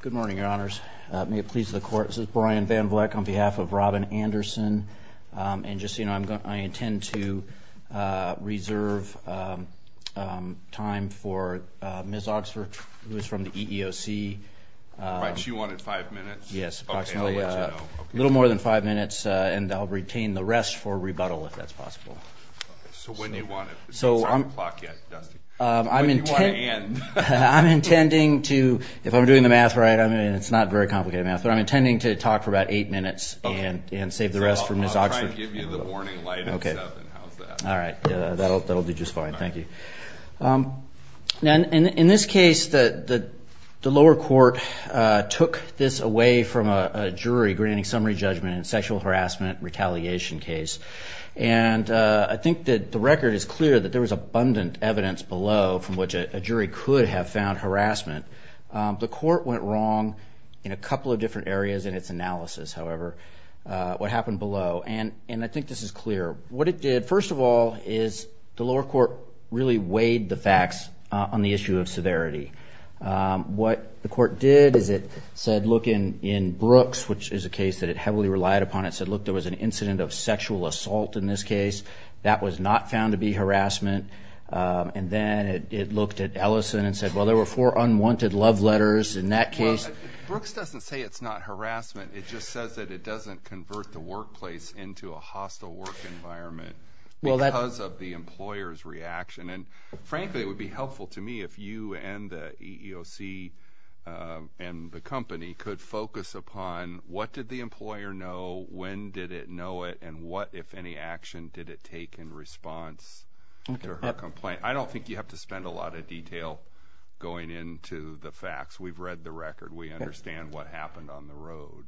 Good morning, Your Honors. May it please the Court, this is Brian Van Vleck on behalf of Robin Anderson and just, you know, I intend to reserve time for Ms. Oxford, who is from the EEOC. Right, she wanted five minutes. Yes, a little more than five minutes and I'll retain the rest for rebuttal if that's possible. So I'm doing the math right. I mean, it's not very complicated math, but I'm intending to talk for about eight minutes and save the rest for Ms. Oxford. I'll try and give you the warning light at seven. How's that? All right, that'll do just fine. Thank you. Now, in this case, the lower court took this away from a jury granting summary judgment in a sexual harassment retaliation case, and I think that the record is clear that there was abundant evidence below from which a jury could have found harassment. The court went wrong in a couple of different areas in its analysis, however, what happened below, and I think this is clear. What it did, first of all, is the lower court really weighed the facts on the issue of severity. What the court did is it said, look, in Brooks, which is a case that it heavily relied upon, it said, look, there was an incident of sexual assault in this case. That was not found to be harassment, and then it looked at Ellison and said, well, there were four unwanted love letters in that case. Brooks doesn't say it's not harassment, it just says that it doesn't convert the workplace into a hostile work environment because of the employer's reaction, and frankly, it would be helpful to me if you and the EEOC and the company could focus upon what did the employer know, when did it know it, and what, if any, action did it take in response to her complaint. I don't think you have to go into detail going into the facts. We've read the record. We understand what happened on the road.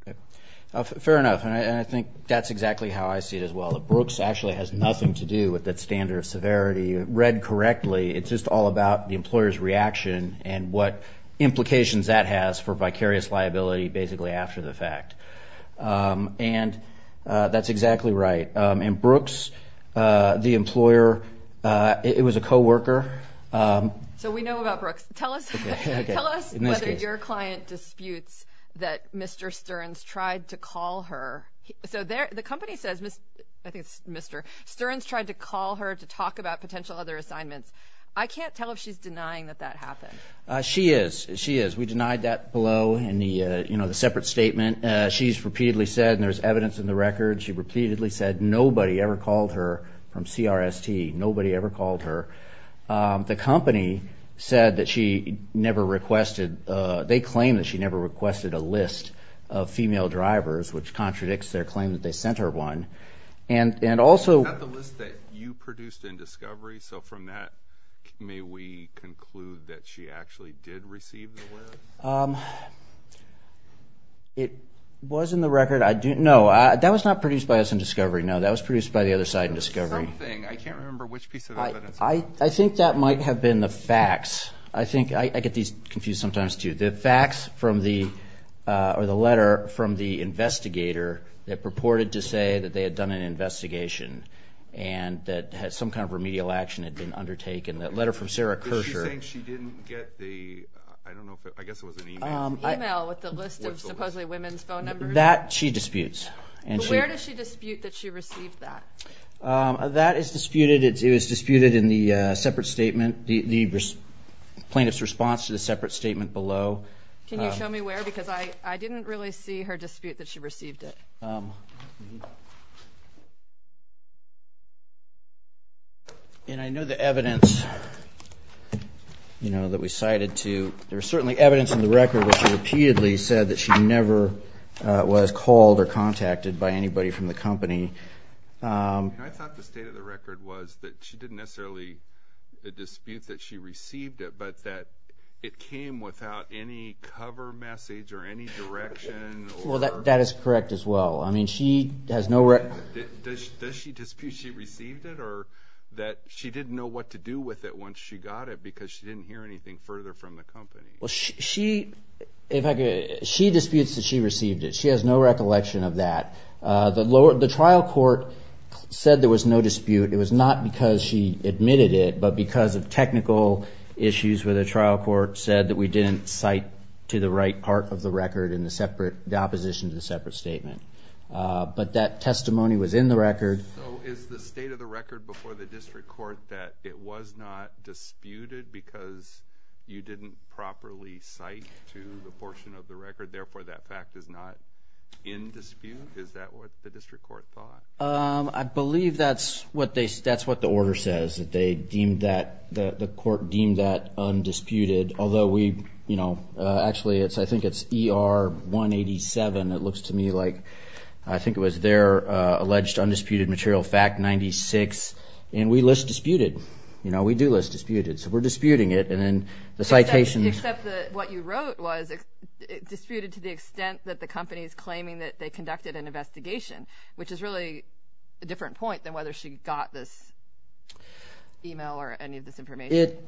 Fair enough, and I think that's exactly how I see it as well. Brooks actually has nothing to do with that standard of severity. Read correctly, it's just all about the employer's reaction and what implications that has for vicarious liability basically after the fact, and that's what we know about Brooks. Tell us whether your client disputes that Mr. Stearns tried to call her. So the company says, I think it's Mr., Stearns tried to call her to talk about potential other assignments. I can't tell if she's denying that that happened. She is, she is. We denied that below in the, you know, the separate statement. She's repeatedly said, and there's evidence in the record, she repeatedly said nobody ever called her from CRST. Nobody ever called her. The company said that she never requested, they claim that she never requested a list of female drivers, which contradicts their claim that they sent her one, and also... Is that the list that you produced in Discovery? So from that, may we conclude that she actually did receive the list? It was in the record. I do, no, that was not produced by us in Discovery. No, that was produced by the other side in I think that might have been the facts. I think, I get these confused sometimes too, the facts from the, or the letter from the investigator that purported to say that they had done an investigation and that some kind of remedial action had been undertaken. That letter from Sarah Kersher. Is she saying she didn't get the, I don't know, I guess it was an email. Email with the list of supposedly women's phone numbers? That she disputes. Where does she dispute that she received that? That is disputed, it was disputed in the separate statement, the plaintiff's response to the separate statement below. Can you show me where? Because I didn't really see her dispute that she received it. And I know the evidence, you know, that we cited to, there's certainly evidence in the record which repeatedly said that she never was called or contacted by anybody from the company. I thought the state of the record was that she didn't necessarily dispute that she received it, but that it came without any cover message or any direction. Well, that is correct as well. I mean, she has no record. Does she dispute she received it or that she didn't know what to do with it once she got it because she didn't hear anything further from the company? Well, she disputes that she received it. She has no recollection of that. The trial court said there was no dispute. It was not because she admitted it, but because of technical issues where the trial court said that we didn't cite to the right part of the record in the separate, the opposition to the separate statement. But that testimony was in the record. So is the state of the record before the district court that it was not disputed because you didn't properly cite to the portion of the record, therefore that fact is not in dispute? Is that what the district court thought? I believe that's what they, that's what the order says, that they deemed that, the court deemed that undisputed. Although we, you know, actually it's, I think it's ER 187. It looks to me like, I think it was their alleged undisputed material, fact 96. And we list disputed. You know, we do list disputed. So we're disputing it. And then the citation. Except that what you wrote was disputed to the extent that the company is claiming that they conducted an investigation, which is really a different point than whether she got this email or any of this information. It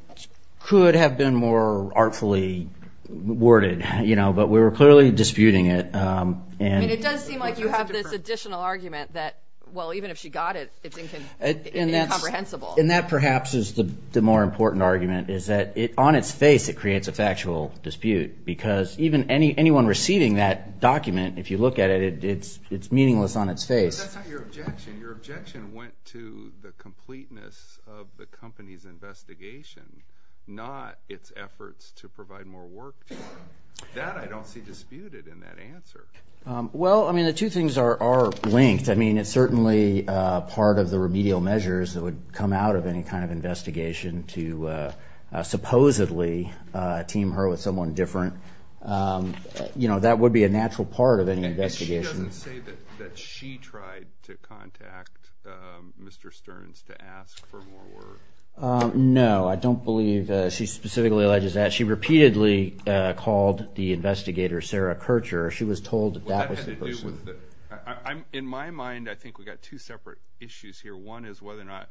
could have been more artfully worded, you know, but we were clearly disputing it. And it does seem like you have this additional argument that, well, even if she got it, it's incomprehensible. And that perhaps is the more important argument, is that on its face it creates a factual dispute. Because even anyone receiving that document, if you look at it, it's meaningless on its face. But that's not your objection. Your objection went to the completeness of the company's investigation, not its efforts to provide more work to her. That I don't see disputed in that answer. Well, I mean, the two things are linked. I mean, it's certainly part of the remedial measures that would come out of any kind of investigation to supposedly team her with someone different. You know, that would be a natural part of any investigation. She doesn't say that she tried to contact Mr. Stearns to ask for more work. No, I don't believe she specifically alleges that. She repeatedly called the investigator Sarah Kircher. She was told that was the person. In my mind, I think we've got two separate issues here. One is whether or not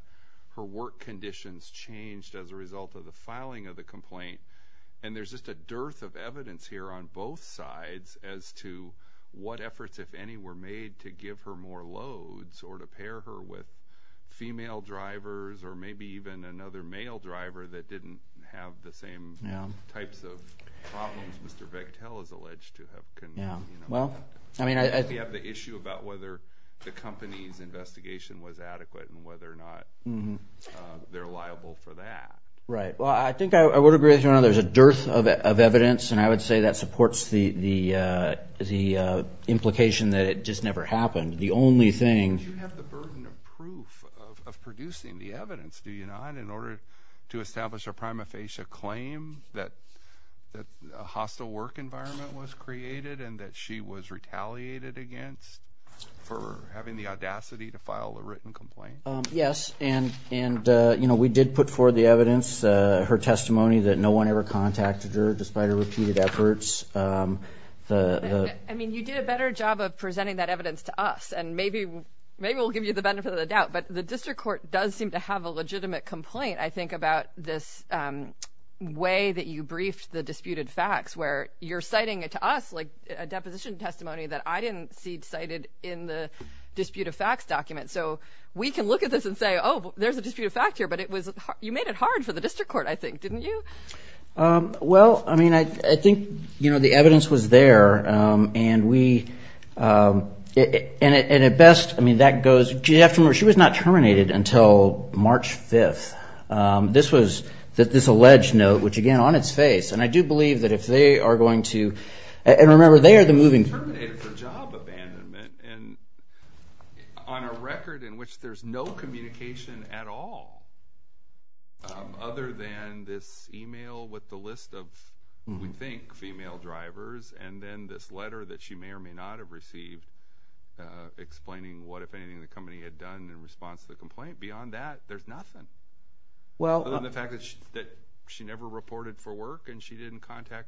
her work conditions changed as a result of the filing of the complaint. And there's just a dearth of evidence here on both sides as to what efforts, if any, were made to give her more loads or to pair her with female drivers or maybe even another male driver that didn't have the same types of problems Mr. Vektel is alleged to have. I think we have the issue about whether the company's investigation was adequate and whether or not they're liable for that. Right. Well, I think I would agree with you on that. There's a dearth of evidence, and I would say that supports the implication that it just never happened. The only thing… Do you have the burden of proof of producing the evidence, do you not, in order to establish a prima facie claim that a hostile work environment was created and that she was retaliated against for having the audacity to file a written complaint? Yes. And, you know, we did put forward the evidence, her testimony, that no one ever contacted her despite her repeated efforts. I mean, you did a better job of presenting that evidence to us, and maybe we'll give you the benefit of the doubt. But the district court does seem to have a legitimate complaint, I think, about this way that you briefed the disputed facts, where you're citing it to us like a deposition testimony that I didn't see cited in the disputed facts document. So we can look at this and say, oh, there's a disputed fact here, but you made it hard for the district court, I think, didn't you? Well, I mean, I think, you know, the evidence was there, and we – and at best, I mean, that goes – you have to remember, she was not terminated until March 5th. This was – this alleged note, which, again, on its face, and I do believe that if they are going to – and remember, they are the moving – she was terminated for job abandonment and on a record in which there's no communication at all other than this email with the list of, we think, female drivers, and then this letter that she may or may not have received explaining what, if anything, the company had done in response to the complaint. Beyond that, there's nothing, other than the fact that she never reported for work and she didn't contact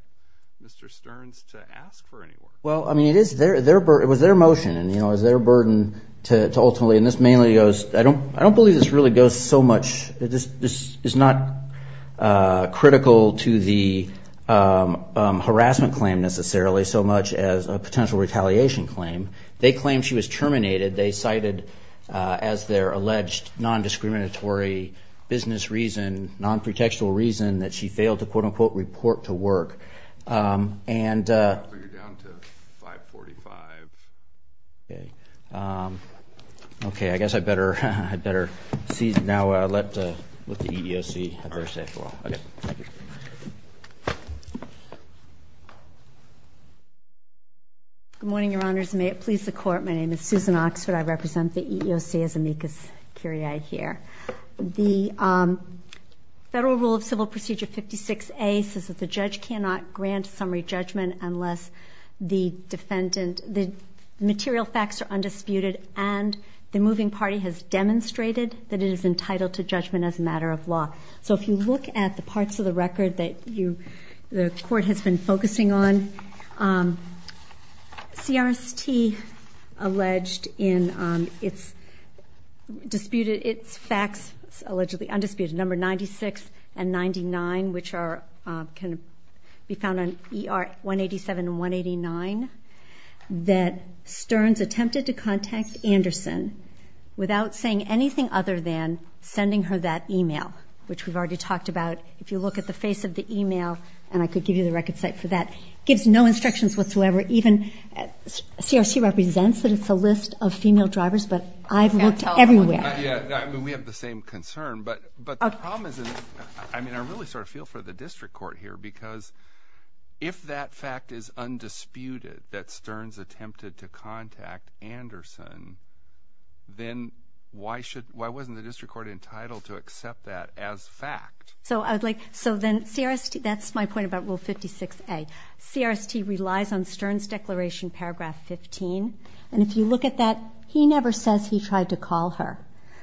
Mr. Stearns to ask for any work. Well, I mean, it is their – it was their motion and, you know, it was their burden to ultimately – and this mainly goes – I don't believe this really goes so much – this is not critical to the harassment claim necessarily so much as a potential retaliation claim. They claim she was terminated. They cited, as their alleged non-discriminatory business reason, non-protectional reason, that she failed to, quote-unquote, report to work. And – Okay, I guess I better cease now. Let the EEOC have their say for all. Okay. Thank you. Good morning, Your Honors. May it please the Court, my name is Susan Oxford. I represent the EEOC as amicus curiae here. The Federal Rule of Civil Procedure 56A says that the judge cannot grant summary judgment unless the defendant – the material facts are undisputed and the moving party has demonstrated that it is entitled to judgment as a matter of law. So if you look at the parts of the record that you – the Court has been focusing on, CRST alleged in its disputed – its facts allegedly undisputed, number 96 and 99, which are – can be found on ER 187 and 189, that Stearns attempted to contact Anderson without saying anything other than sending her that email, which we've already talked about. If you look at the face of the email – and I could give you the record site for that – gives no instructions whatsoever, even – CRST represents that it's a list of female drivers, but I've looked everywhere. Yeah, I mean, we have the same concern, but the problem is in – I mean, I really sort of feel for the district court here, because if that fact is undisputed that Stearns attempted to contact Anderson, then why shouldn't – why wasn't the district court entitled to accept that as fact? So I would like – so then CRST – that's my point about Rule 56A. CRST relies on Stearns' declaration, paragraph 15, and if you look at that, he never says he tried to call her.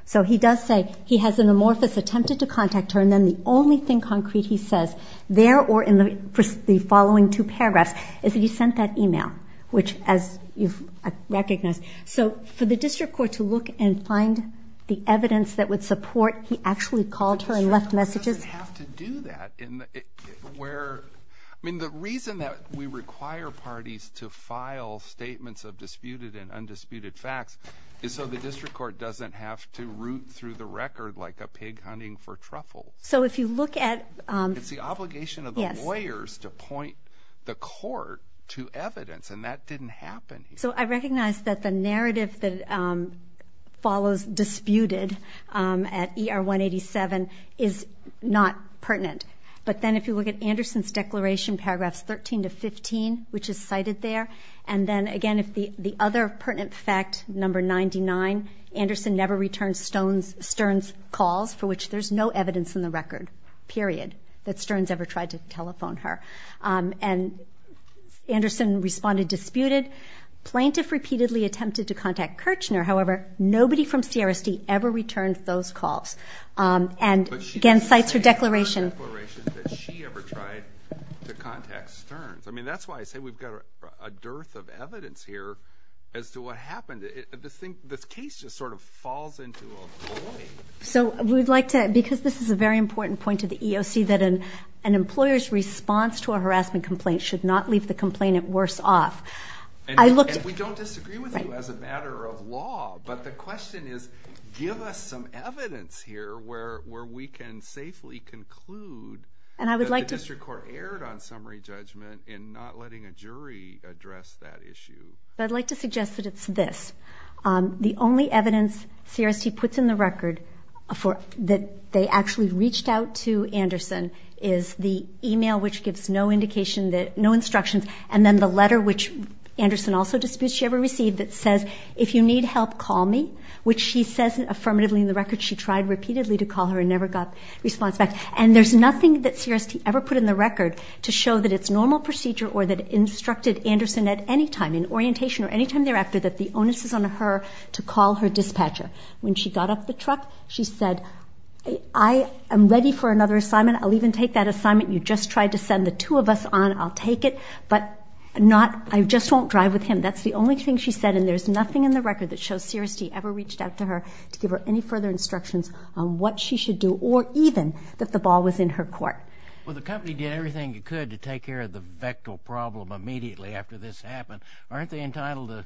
So he does say he has an amorphous attempted to contact her, and then the only thing concrete he says there or in the following two paragraphs is that he sent that email, which, as you've recognized. So for the district court to look and find the evidence that would support he actually called her and left messages – But the district court doesn't have to do that in the – where – I mean, the reason that we require parties to file statements of disputed and undisputed facts is so the district court doesn't have to root through the record like a pig hunting for truffles. So if you look at – It's the obligation of the lawyers to point the court to evidence, and that didn't happen here. So I recognize that the narrative that follows disputed at ER 187 is not pertinent, but then if you look at Anderson's declaration, paragraphs 13 to 15, which is cited there, and then, again, if the other pertinent fact, number 99, Anderson never returns Stearns' calls, for which there's no evidence in the record, period, that Stearns ever tried to telephone her. And Anderson responded disputed. Plaintiff repeatedly attempted to contact Kirchner. However, nobody from CRSD ever returned those calls. And, again, cites her declaration. But she didn't say in her declaration that she ever tried to contact Stearns. I mean, that's why I say we've got a dearth of evidence here as to what happened. This case just sort of falls into a void. So we'd like to – because this is a very important point to the EOC, that an employer's response to a harassment complaint should not leave the complainant worse off. And we don't disagree with you as a matter of law. But the question is give us some evidence here where we can safely conclude that the district court erred on summary judgment in not letting a jury address that issue. I'd like to suggest that it's this. The only evidence CRSD puts in the record that they actually reached out to Anderson is the e-mail, which gives no indication that – no instructions, and then the letter, which Anderson also disputes she ever received, that says, if you need help, call me, which she says affirmatively in the record she tried repeatedly to call her and never got response back. And there's nothing that CRSD ever put in the record to show that it's normal procedure or that it instructed Anderson at any time in orientation or any time thereafter that the onus is on her to call her dispatcher. When she got off the truck, she said, I am ready for another assignment. I'll even take that assignment you just tried to send the two of us on. I'll take it, but not – I just won't drive with him. That's the only thing she said, and there's nothing in the record that shows CRSD ever reached out to her to give her any further instructions on what she should do or even that the ball was in her court. Well, the company did everything it could to take care of the vecto problem immediately after this happened. Aren't they entitled to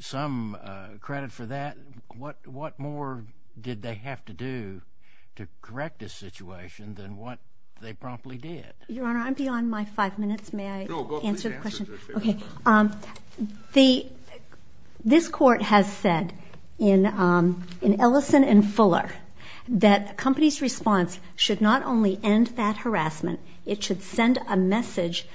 some credit for that? What more did they have to do to correct this situation than what they promptly did? Your Honor, I'm beyond my five minutes. May I answer the question? No, go ahead. Okay. This court has said in Ellison and Fuller that a company's response should not only end that harassment, it should send a message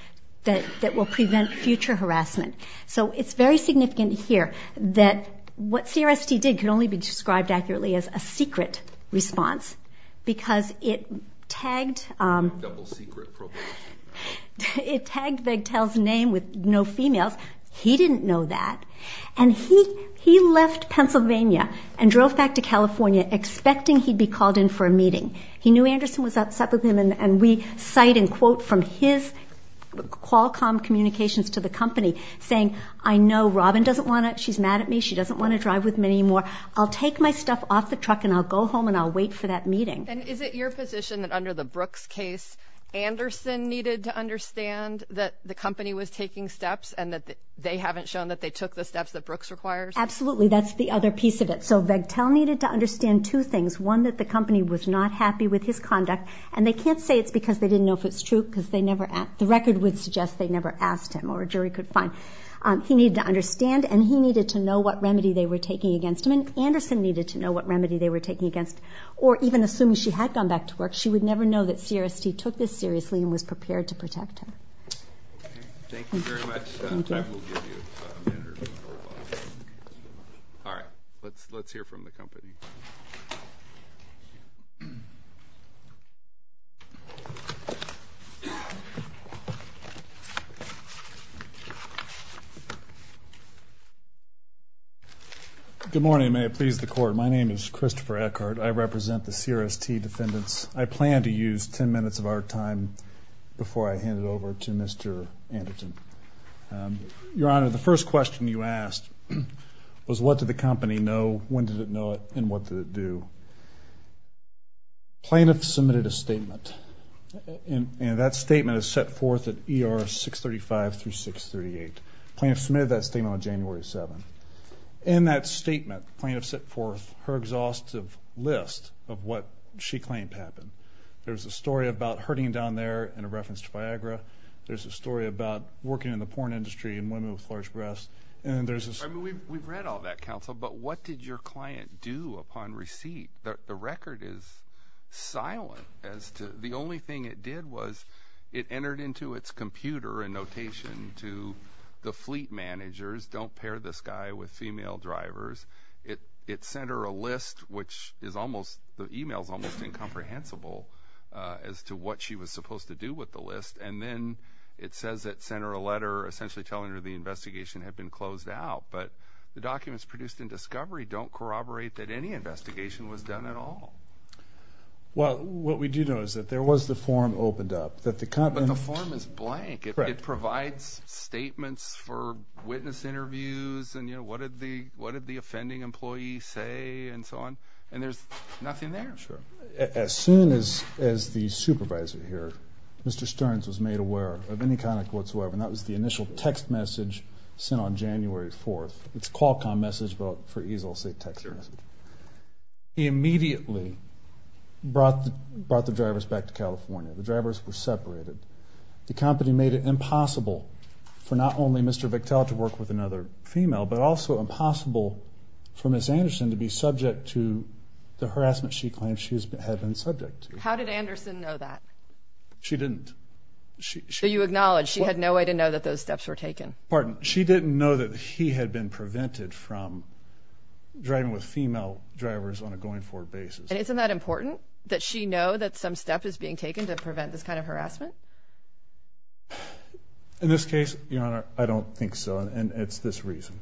that will prevent future harassment. So it's very significant here that what CRSD did could only be described accurately as a secret response because it tagged Vegtel's name with no females. He didn't know that, and he left Pennsylvania and drove back to California expecting he'd be called in for a meeting. He knew Anderson was upset with him, and we cite and quote from his Qualcomm communications to the company saying, I know Robin doesn't want to – she's mad at me. She doesn't want to drive with me anymore. I'll take my stuff off the truck, and I'll go home, and I'll wait for that meeting. And is it your position that under the Brooks case, Anderson needed to understand that the company was taking steps and that they haven't shown that they took the steps that Brooks requires? Absolutely. That's the other piece of it. So Vegtel needed to understand two things. One, that the company was not happy with his conduct, and they can't say it's because they didn't know if it's true because they never – the record would suggest they never asked him or a jury could find. He needed to understand, and he needed to know what remedy they were taking against him, and Anderson needed to know what remedy they were taking against him. Or even assuming she had gone back to work, she would never know that CRST took this seriously and was prepared to protect her. Okay. Thank you very much. Thank you. All right. Let's hear from the company. Good morning. May it please the Court. My name is Christopher Eckert. I represent the CRST defendants. I plan to use 10 minutes of our time before I hand it over to Mr. Anderton. Your Honor, the first question you asked was what did the company know, when did it know it, and what did it do? Plaintiff submitted a statement, and that statement is set forth at ER 635 through 638. Plaintiff submitted that statement on January 7th. In that statement, plaintiff set forth her exhaustive list of what she claimed happened. There's a story about hurting down there in a reference to Viagra. There's a story about working in the porn industry and women with large breasts. We've read all that, counsel, but what did your client do upon receipt? The record is silent. The only thing it did was it entered into its computer a notation to the fleet managers, don't pair this guy with female drivers. It sent her a list, which is almost the email is almost incomprehensible, as to what she was supposed to do with the list. And then it says it sent her a letter essentially telling her the investigation had been closed out. But the documents produced in discovery don't corroborate that any investigation was done at all. Well, what we do know is that there was the form opened up. But the form is blank. It provides statements for witness interviews and, you know, what did the offending employee say and so on, and there's nothing there. As soon as the supervisor here, Mr. Stearns, was made aware of any kind of whatsoever, and that was the initial text message sent on January 4th. It's a Qualcomm message, but for ease I'll say text message. He immediately brought the drivers back to California. The drivers were separated. The company made it impossible for not only Mr. Vectel to work with another female, but also impossible for Ms. Anderson to be subject to the harassment she claimed she had been subject to. How did Anderson know that? She didn't. So you acknowledge she had no way to know that those steps were taken? Pardon? She didn't know that he had been prevented from driving with female drivers on a going forward basis. And isn't that important, that she know that some step is being taken to prevent this kind of harassment? In this case, Your Honor, I don't think so, and it's this reason.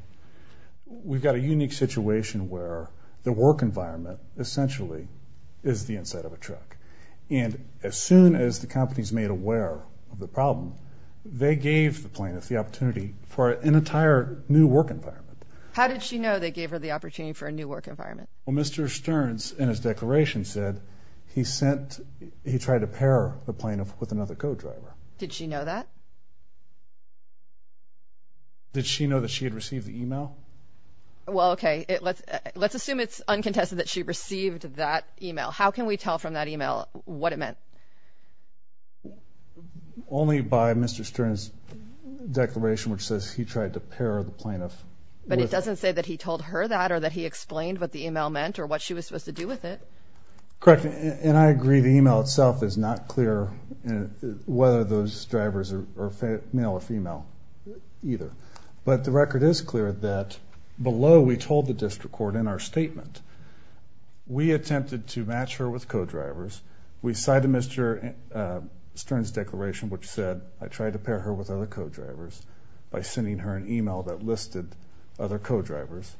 We've got a unique situation where the work environment essentially is the inside of a truck, and as soon as the company's made aware of the problem, they gave the plaintiff the opportunity for an entire new work environment. How did she know they gave her the opportunity for a new work environment? Well, Mr. Stearns, in his declaration, said he tried to pair the plaintiff with another co-driver. Did she know that? Did she know that she had received the email? Well, okay, let's assume it's uncontested that she received that email. How can we tell from that email what it meant? Only by Mr. Stearns' declaration, which says he tried to pair the plaintiff. But it doesn't say that he told her that or that he explained what the email meant or what she was supposed to do with it. Correct, and I agree the email itself is not clear whether those drivers are male or female either. But the record is clear that below we told the district court in our statement, we attempted to match her with co-drivers. We cited Mr. Stearns' declaration, which said, I tried to pair her with other co-drivers by sending her an email that listed other co-drivers.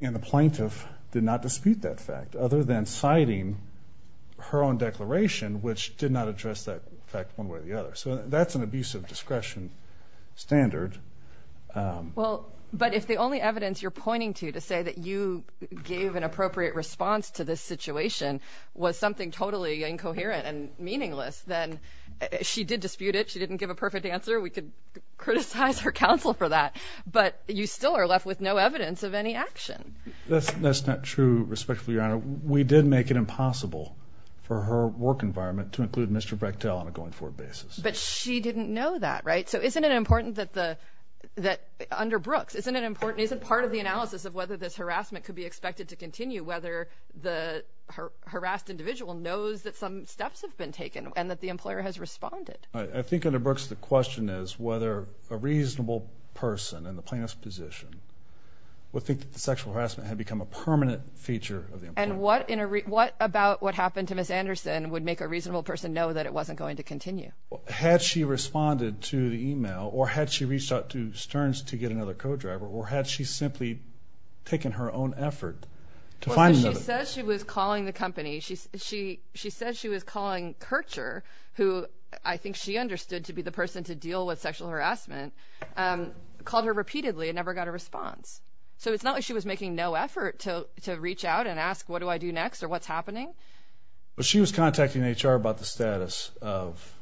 And the plaintiff did not dispute that fact, other than citing her own declaration, which did not address that fact one way or the other. So that's an abusive discretion standard. Well, but if the only evidence you're pointing to to say that you gave an appropriate response to this situation was something totally incoherent and meaningless, then she did dispute it. She didn't give a perfect answer. We could criticize her counsel for that. But you still are left with no evidence of any action. That's not true, respectfully, Your Honor. We did make it impossible for her work environment to include Mr. Brechtel on a going-forward basis. But she didn't know that, right? So isn't it important that under Brooks, isn't part of the analysis of whether this harassment could be expected to continue, whether the harassed individual knows that some steps have been taken and that the employer has responded? I think under Brooks the question is whether a reasonable person in the plaintiff's position would think that the sexual harassment had become a permanent feature of the employee. And what about what happened to Ms. Anderson would make a reasonable person know that it wasn't going to continue? Had she responded to the email or had she reached out to Stearns to get another co-driver or had she simply taken her own effort to find another? She said she was calling the company. She said she was calling Kircher, who I think she understood to be the person to deal with sexual harassment, called her repeatedly and never got a response. So it's not like she was making no effort to reach out and ask what do I do next or what's happening. But she was contacting HR about the status of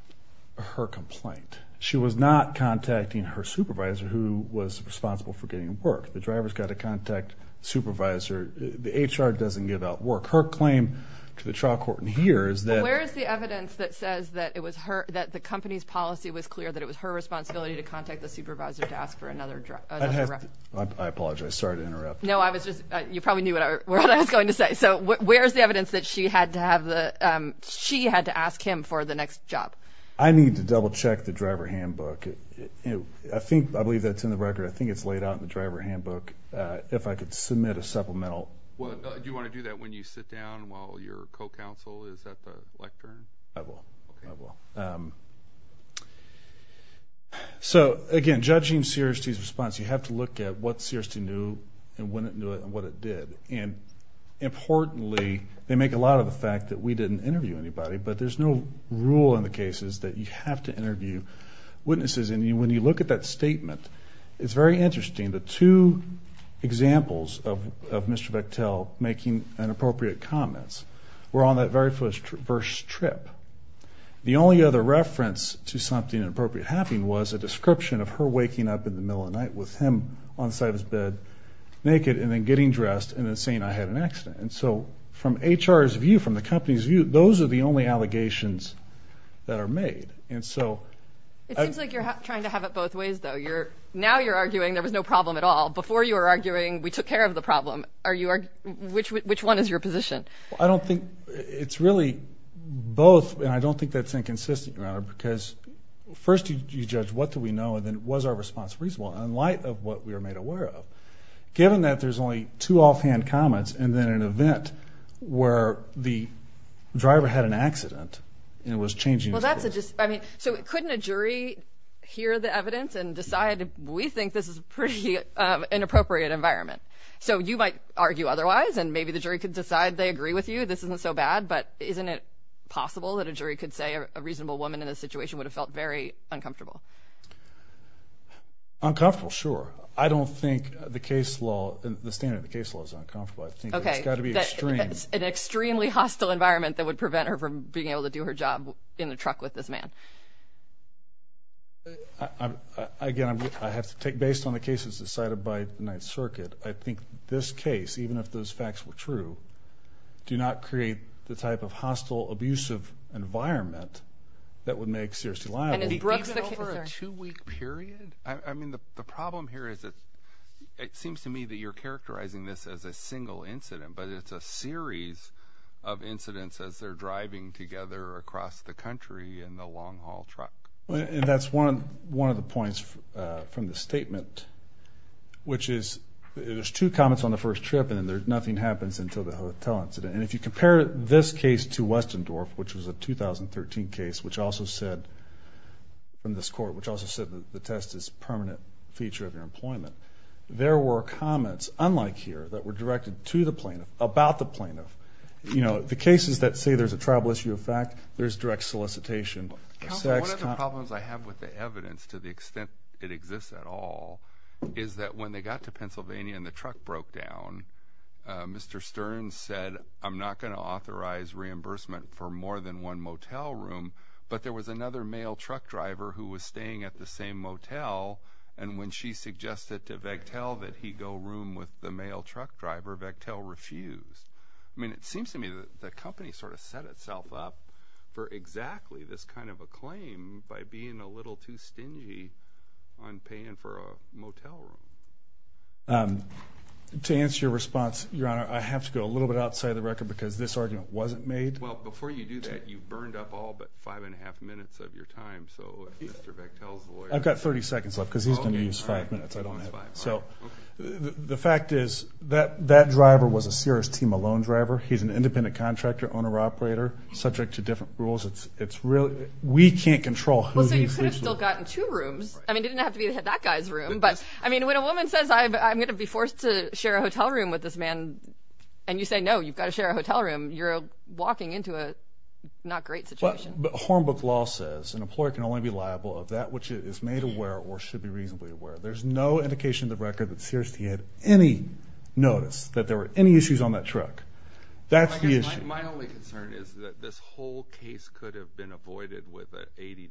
her complaint. She was not contacting her supervisor, who was responsible for getting work. The driver's got to contact the supervisor. The HR doesn't give out work. Her claim to the trial court in here is that- Where is the evidence that says that the company's policy was clear, that it was her responsibility to contact the supervisor to ask for another- I apologize. Sorry to interrupt. No, you probably knew what I was going to say. So where is the evidence that she had to ask him for the next job? I need to double-check the driver handbook. I believe that's in the record. I think it's laid out in the driver handbook. If I could submit a supplemental. Do you want to do that when you sit down while your co-counsel is at the lectern? I will. Okay. So, again, judging Searcy's response, you have to look at what Searcy knew and when it knew it and what it did. And importantly, they make a lot of the fact that we didn't interview anybody, but there's no rule in the cases that you have to interview witnesses. And when you look at that statement, it's very interesting. The two examples of Mr. Bechtel making inappropriate comments were on that very first trip. The only other reference to something inappropriate happening was a description of her waking up in the middle of the night with him on the side of his bed, naked, and then getting dressed and then saying, I had an accident. And so from HR's view, from the company's view, those are the only allegations that are made. It seems like you're trying to have it both ways, though. Now you're arguing there was no problem at all. Before you were arguing we took care of the problem. Which one is your position? I don't think it's really both, and I don't think that's inconsistent, Your Honor, because first you judge what do we know and then was our response reasonable? In light of what we were made aware of, given that there's only two offhand comments and then an event where the driver had an accident and was changing his clothes. Couldn't a jury hear the evidence and decide, we think this is a pretty inappropriate environment? So you might argue otherwise, and maybe the jury could decide they agree with you, this isn't so bad, but isn't it possible that a jury could say a reasonable woman in this situation would have felt very uncomfortable? Uncomfortable, sure. I don't think the standard of the case law is uncomfortable. It's got to be extreme. An extremely hostile environment that would prevent her from being able to do her job in the truck with this man. Again, based on the cases decided by the Ninth Circuit, I think this case, even if those facts were true, do not create the type of hostile, abusive environment that would make Searcy liable. Even over a two-week period? The problem here is it seems to me that you're characterizing this as a single incident, but it's a series of incidents as they're driving together across the country in the long-haul truck. That's one of the points from the statement, which is there's two comments on the first trip and then nothing happens until the hotel incident. And if you compare this case to Westendorf, which was a 2013 case from this court, which also said that the test is a permanent feature of your employment, there were comments, unlike here, that were directed to the plaintiff about the plaintiff. You know, the cases that say there's a tribal issue of fact, there's direct solicitation of sex. Counsel, one of the problems I have with the evidence to the extent it exists at all is that when they got to Pennsylvania and the truck broke down, Mr. Stern said, I'm not going to authorize reimbursement for more than one motel room, but there was another male truck driver who was staying at the same motel, and when she suggested to Vectel that he go room with the male truck driver, Vectel refused. I mean, it seems to me that the company sort of set itself up for exactly this kind of a claim by being a little too stingy on paying for a motel room. To answer your response, Your Honor, I have to go a little bit outside the record because this argument wasn't made. Well, before you do that, you've burned up all but five and a half minutes of your time, so if Mr. Vectel's the lawyer. I've got 30 seconds left because he's going to use five minutes. So the fact is that that driver was a Sears T. Malone driver. He's an independent contractor, owner-operator, subject to different rules. We can't control who he sleeps with. Well, so you could have still gotten two rooms. I mean, it didn't have to be that guy's room. But, I mean, when a woman says, I'm going to be forced to share a hotel room with this man, and you say, no, you've got to share a hotel room, you're walking into a not great situation. Hornbook law says an employer can only be liable of that which is made aware or should be reasonably aware. There's no indication in the record that Sears T. had any notice that there were any issues on that truck. That's the issue. My only concern is that this whole case could have been avoided with an $80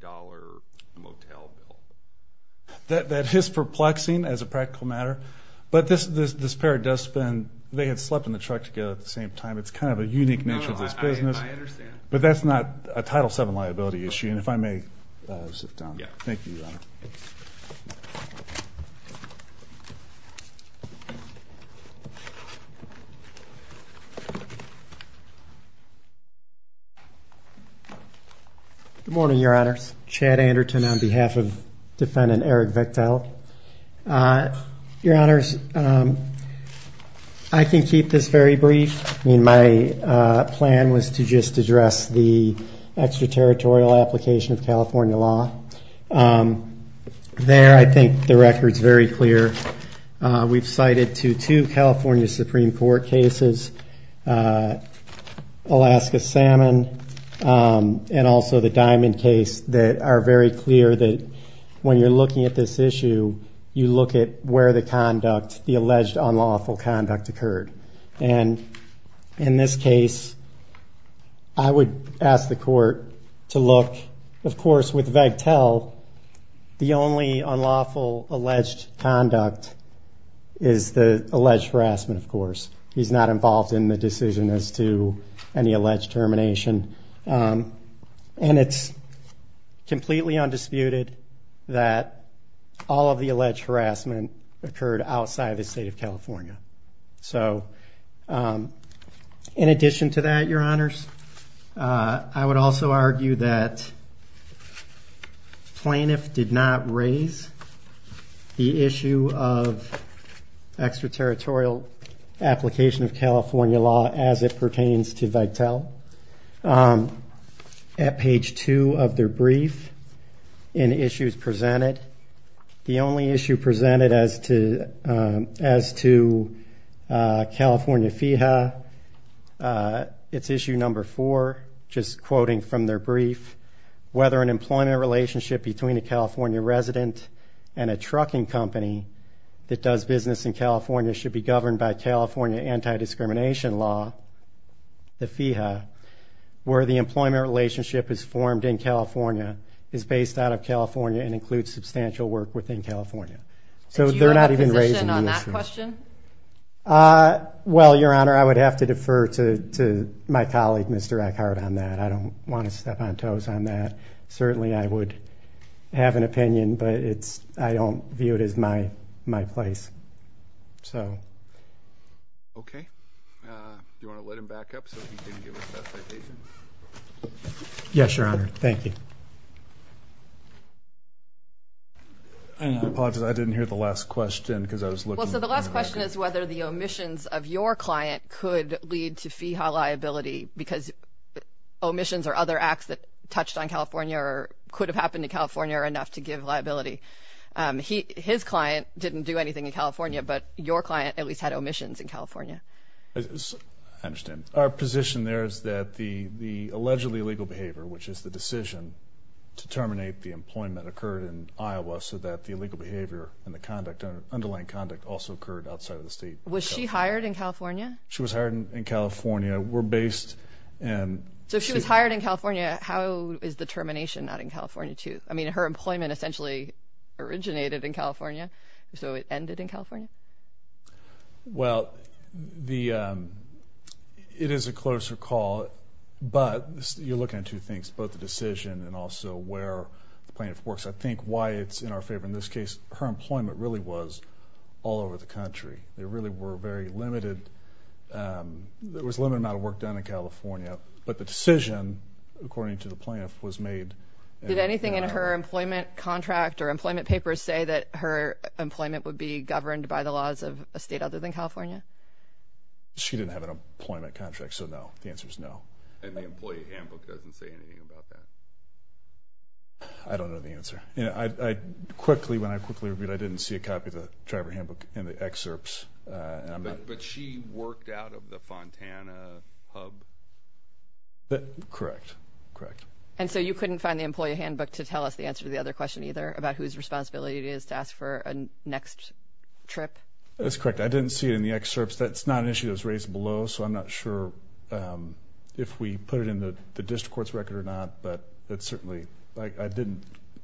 motel bill. That is perplexing as a practical matter. But this pair does spend, they had slept in the truck together at the same time. It's kind of a unique nature of this business. No, no, I understand. But that's not a Title VII liability issue. And if I may sit down. Yeah. Thank you, Your Honor. Good morning, Your Honors. Chad Anderton on behalf of Defendant Eric Vektil. Your Honors, I can keep this very brief. I mean, my plan was to just address the extraterritorial application of California law. There I think the record's very clear. We've cited to two California Supreme Court cases, Alaska Salmon and also the Diamond case, that are very clear that when you're looking at this issue, you look at where the conduct, the alleged unlawful conduct occurred. And in this case, I would ask the court to look, of course, with Vektil, the only unlawful alleged conduct is the alleged harassment, of course. He's not involved in the decision as to any alleged termination. And it's completely undisputed that all of the alleged harassment occurred outside the state of California. So in addition to that, Your Honors, I would also argue that plaintiff did not raise the issue of extraterritorial application of California law as it pertains to Vektil. At page two of their brief, in issues presented, the only issue presented as to California FEHA, it's issue number four, just quoting from their brief, whether an employment relationship between a California resident and a trucking company that does business in California should be governed by California anti-discrimination law, the FEHA, where the employment relationship is formed in California is based out of California and includes substantial work within California. So they're not even raising the issue. Do you have a position on that question? Well, Your Honor, I would have to defer to my colleague, Mr. Eckhart, on that. I don't want to step on toes on that. Certainly, I would have an opinion, but I don't view it as my place. Okay. Do you want to let him back up so he can give his testification? Yes, Your Honor. Thank you. I apologize. I didn't hear the last question because I was looking. Well, so the last question is whether the omissions of your client could lead to FEHA liability because omissions or other acts that touched on California or could have happened in California are enough to give liability. His client didn't do anything in California, but your client at least had omissions in California. I understand. Our position there is that the allegedly illegal behavior, which is the decision to terminate the employment, occurred in Iowa so that the illegal behavior and the underlying conduct also occurred outside of the state. Was she hired in California? She was hired in California. We're based in… So if she was hired in California, how is the termination not in California too? I mean, her employment essentially originated in California, so it ended in California? Well, it is a closer call, but you're looking at two things, both the decision and also where the plaintiff works. I think why it's in our favor in this case, her employment really was all over the country. There really were very limited – there was a limited amount of work done in California, but the decision, according to the plaintiff, was made… Did anything in her employment contract or employment papers say that her employment would be governed by the laws of a state other than California? She didn't have an employment contract, so no. The answer is no. And the employee handbook doesn't say anything about that? I don't know the answer. I quickly – when I quickly reviewed, I didn't see a copy of the driver handbook in the excerpts. But she worked out of the Fontana hub? Correct. Correct. And so you couldn't find the employee handbook to tell us the answer to the other question either, about whose responsibility it is to ask for a next trip? That's correct. I didn't see it in the excerpts. That's not an issue that was raised below, so I'm not sure if we put it in the district court's record or not, but it's certainly – I didn't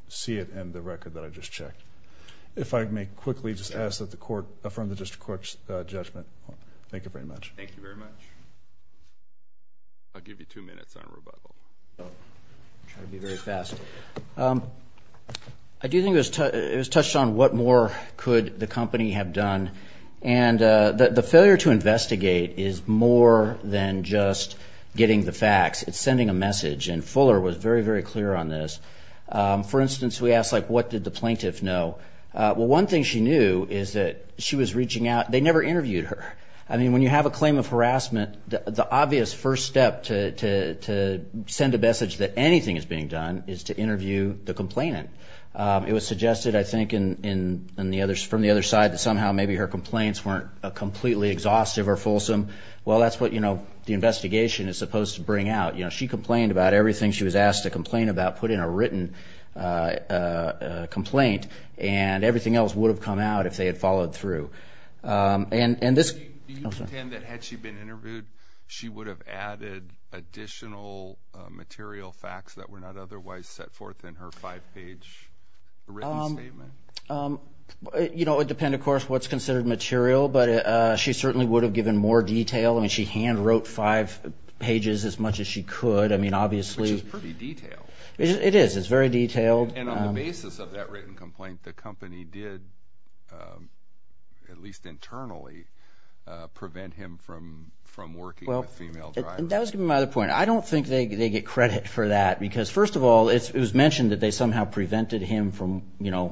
see it in the record that I just checked. If I may quickly just ask that the court affirm the district court's judgment. Thank you very much. Thank you very much. I'll give you two minutes on rebuttal. Try to be very fast. I do think it was touched on what more could the company have done. And the failure to investigate is more than just getting the facts. It's sending a message, and Fuller was very, very clear on this. For instance, we asked, like, what did the plaintiff know? Well, one thing she knew is that she was reaching out – they never interviewed her. I mean, when you have a claim of harassment, the obvious first step to send a message that anything is being done is to interview the complainant. It was suggested, I think, from the other side that somehow maybe her complaints weren't completely exhaustive or fulsome. Well, that's what the investigation is supposed to bring out. She complained about everything she was asked to complain about, put in a written complaint, and everything else would have come out if they had followed through. And this – Do you pretend that had she been interviewed, she would have added additional material facts that were not otherwise set forth in her five-page written statement? You know, it would depend, of course, what's considered material, but she certainly would have given more detail. I mean, she hand-wrote five pages as much as she could. I mean, obviously – Which is pretty detailed. It is. It's very detailed. And on the basis of that written complaint, the company did, at least internally, prevent him from working with female drivers. That was my other point. I don't think they get credit for that because, first of all, it was mentioned that they somehow prevented him from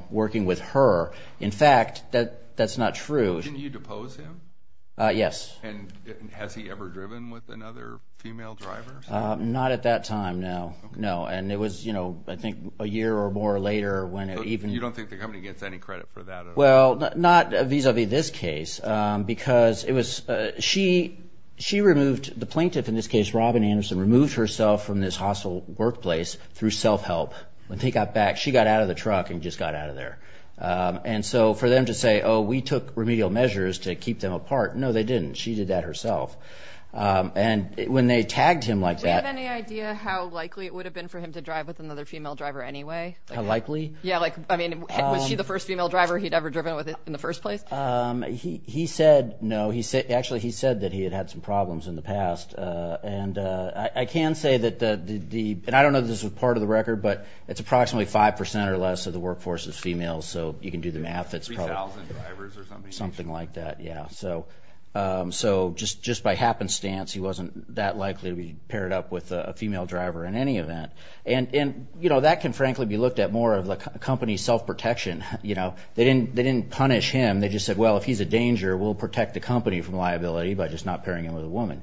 working with her. In fact, that's not true. Didn't you depose him? Yes. And has he ever driven with another female driver? Not at that time, no. No. And it was, you know, I think a year or more later when it even – You don't think the company gets any credit for that at all? Well, not vis-a-vis this case because it was – she removed – the plaintiff in this case, Robin Anderson, removed herself from this hostile workplace through self-help. When he got back, she got out of the truck and just got out of there. And so for them to say, oh, we took remedial measures to keep them apart, no, they didn't. She did that herself. And when they tagged him like that – Do we have any idea how likely it would have been for him to drive with another female driver anyway? How likely? Yeah, like, I mean, was she the first female driver he'd ever driven with in the first place? He said no. Actually, he said that he had had some problems in the past. And I can say that the – and I don't know if this was part of the record, but it's approximately 5 percent or less of the workforce is female, so you can do the math. 3,000 drivers or something. Something like that, yeah. So just by happenstance, he wasn't that likely to be paired up with a female driver in any event. And, you know, that can frankly be looked at more of the company's self-protection. You know, they didn't punish him. They just said, well, if he's a danger, we'll protect the company from liability by just not pairing him with a woman.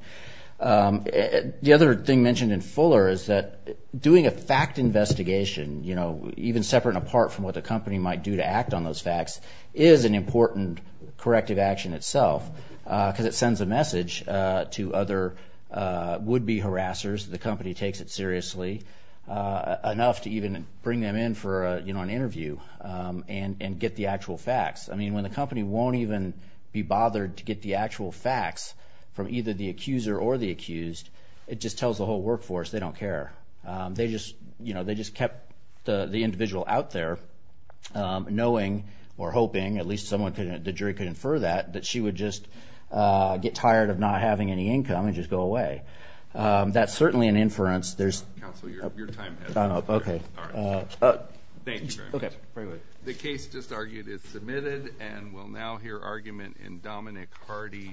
The other thing mentioned in Fuller is that doing a fact investigation, you know, even separate and apart from what the company might do to act on those facts, is an important corrective action itself because it sends a message to other would-be harassers, the company takes it seriously, enough to even bring them in for an interview and get the actual facts. I mean, when the company won't even be bothered to get the actual facts from either the accuser or the accused, it just tells the whole workforce they don't care. They just, you know, they just kept the individual out there knowing or hoping, at least the jury could infer that, that she would just get tired of not having any income and just go away. That's certainly an inference. Counsel, your time has run up. Okay. All right. Thank you very much. Okay. Very well. The case just argued is submitted and we'll now hear argument in Dominic Hardy.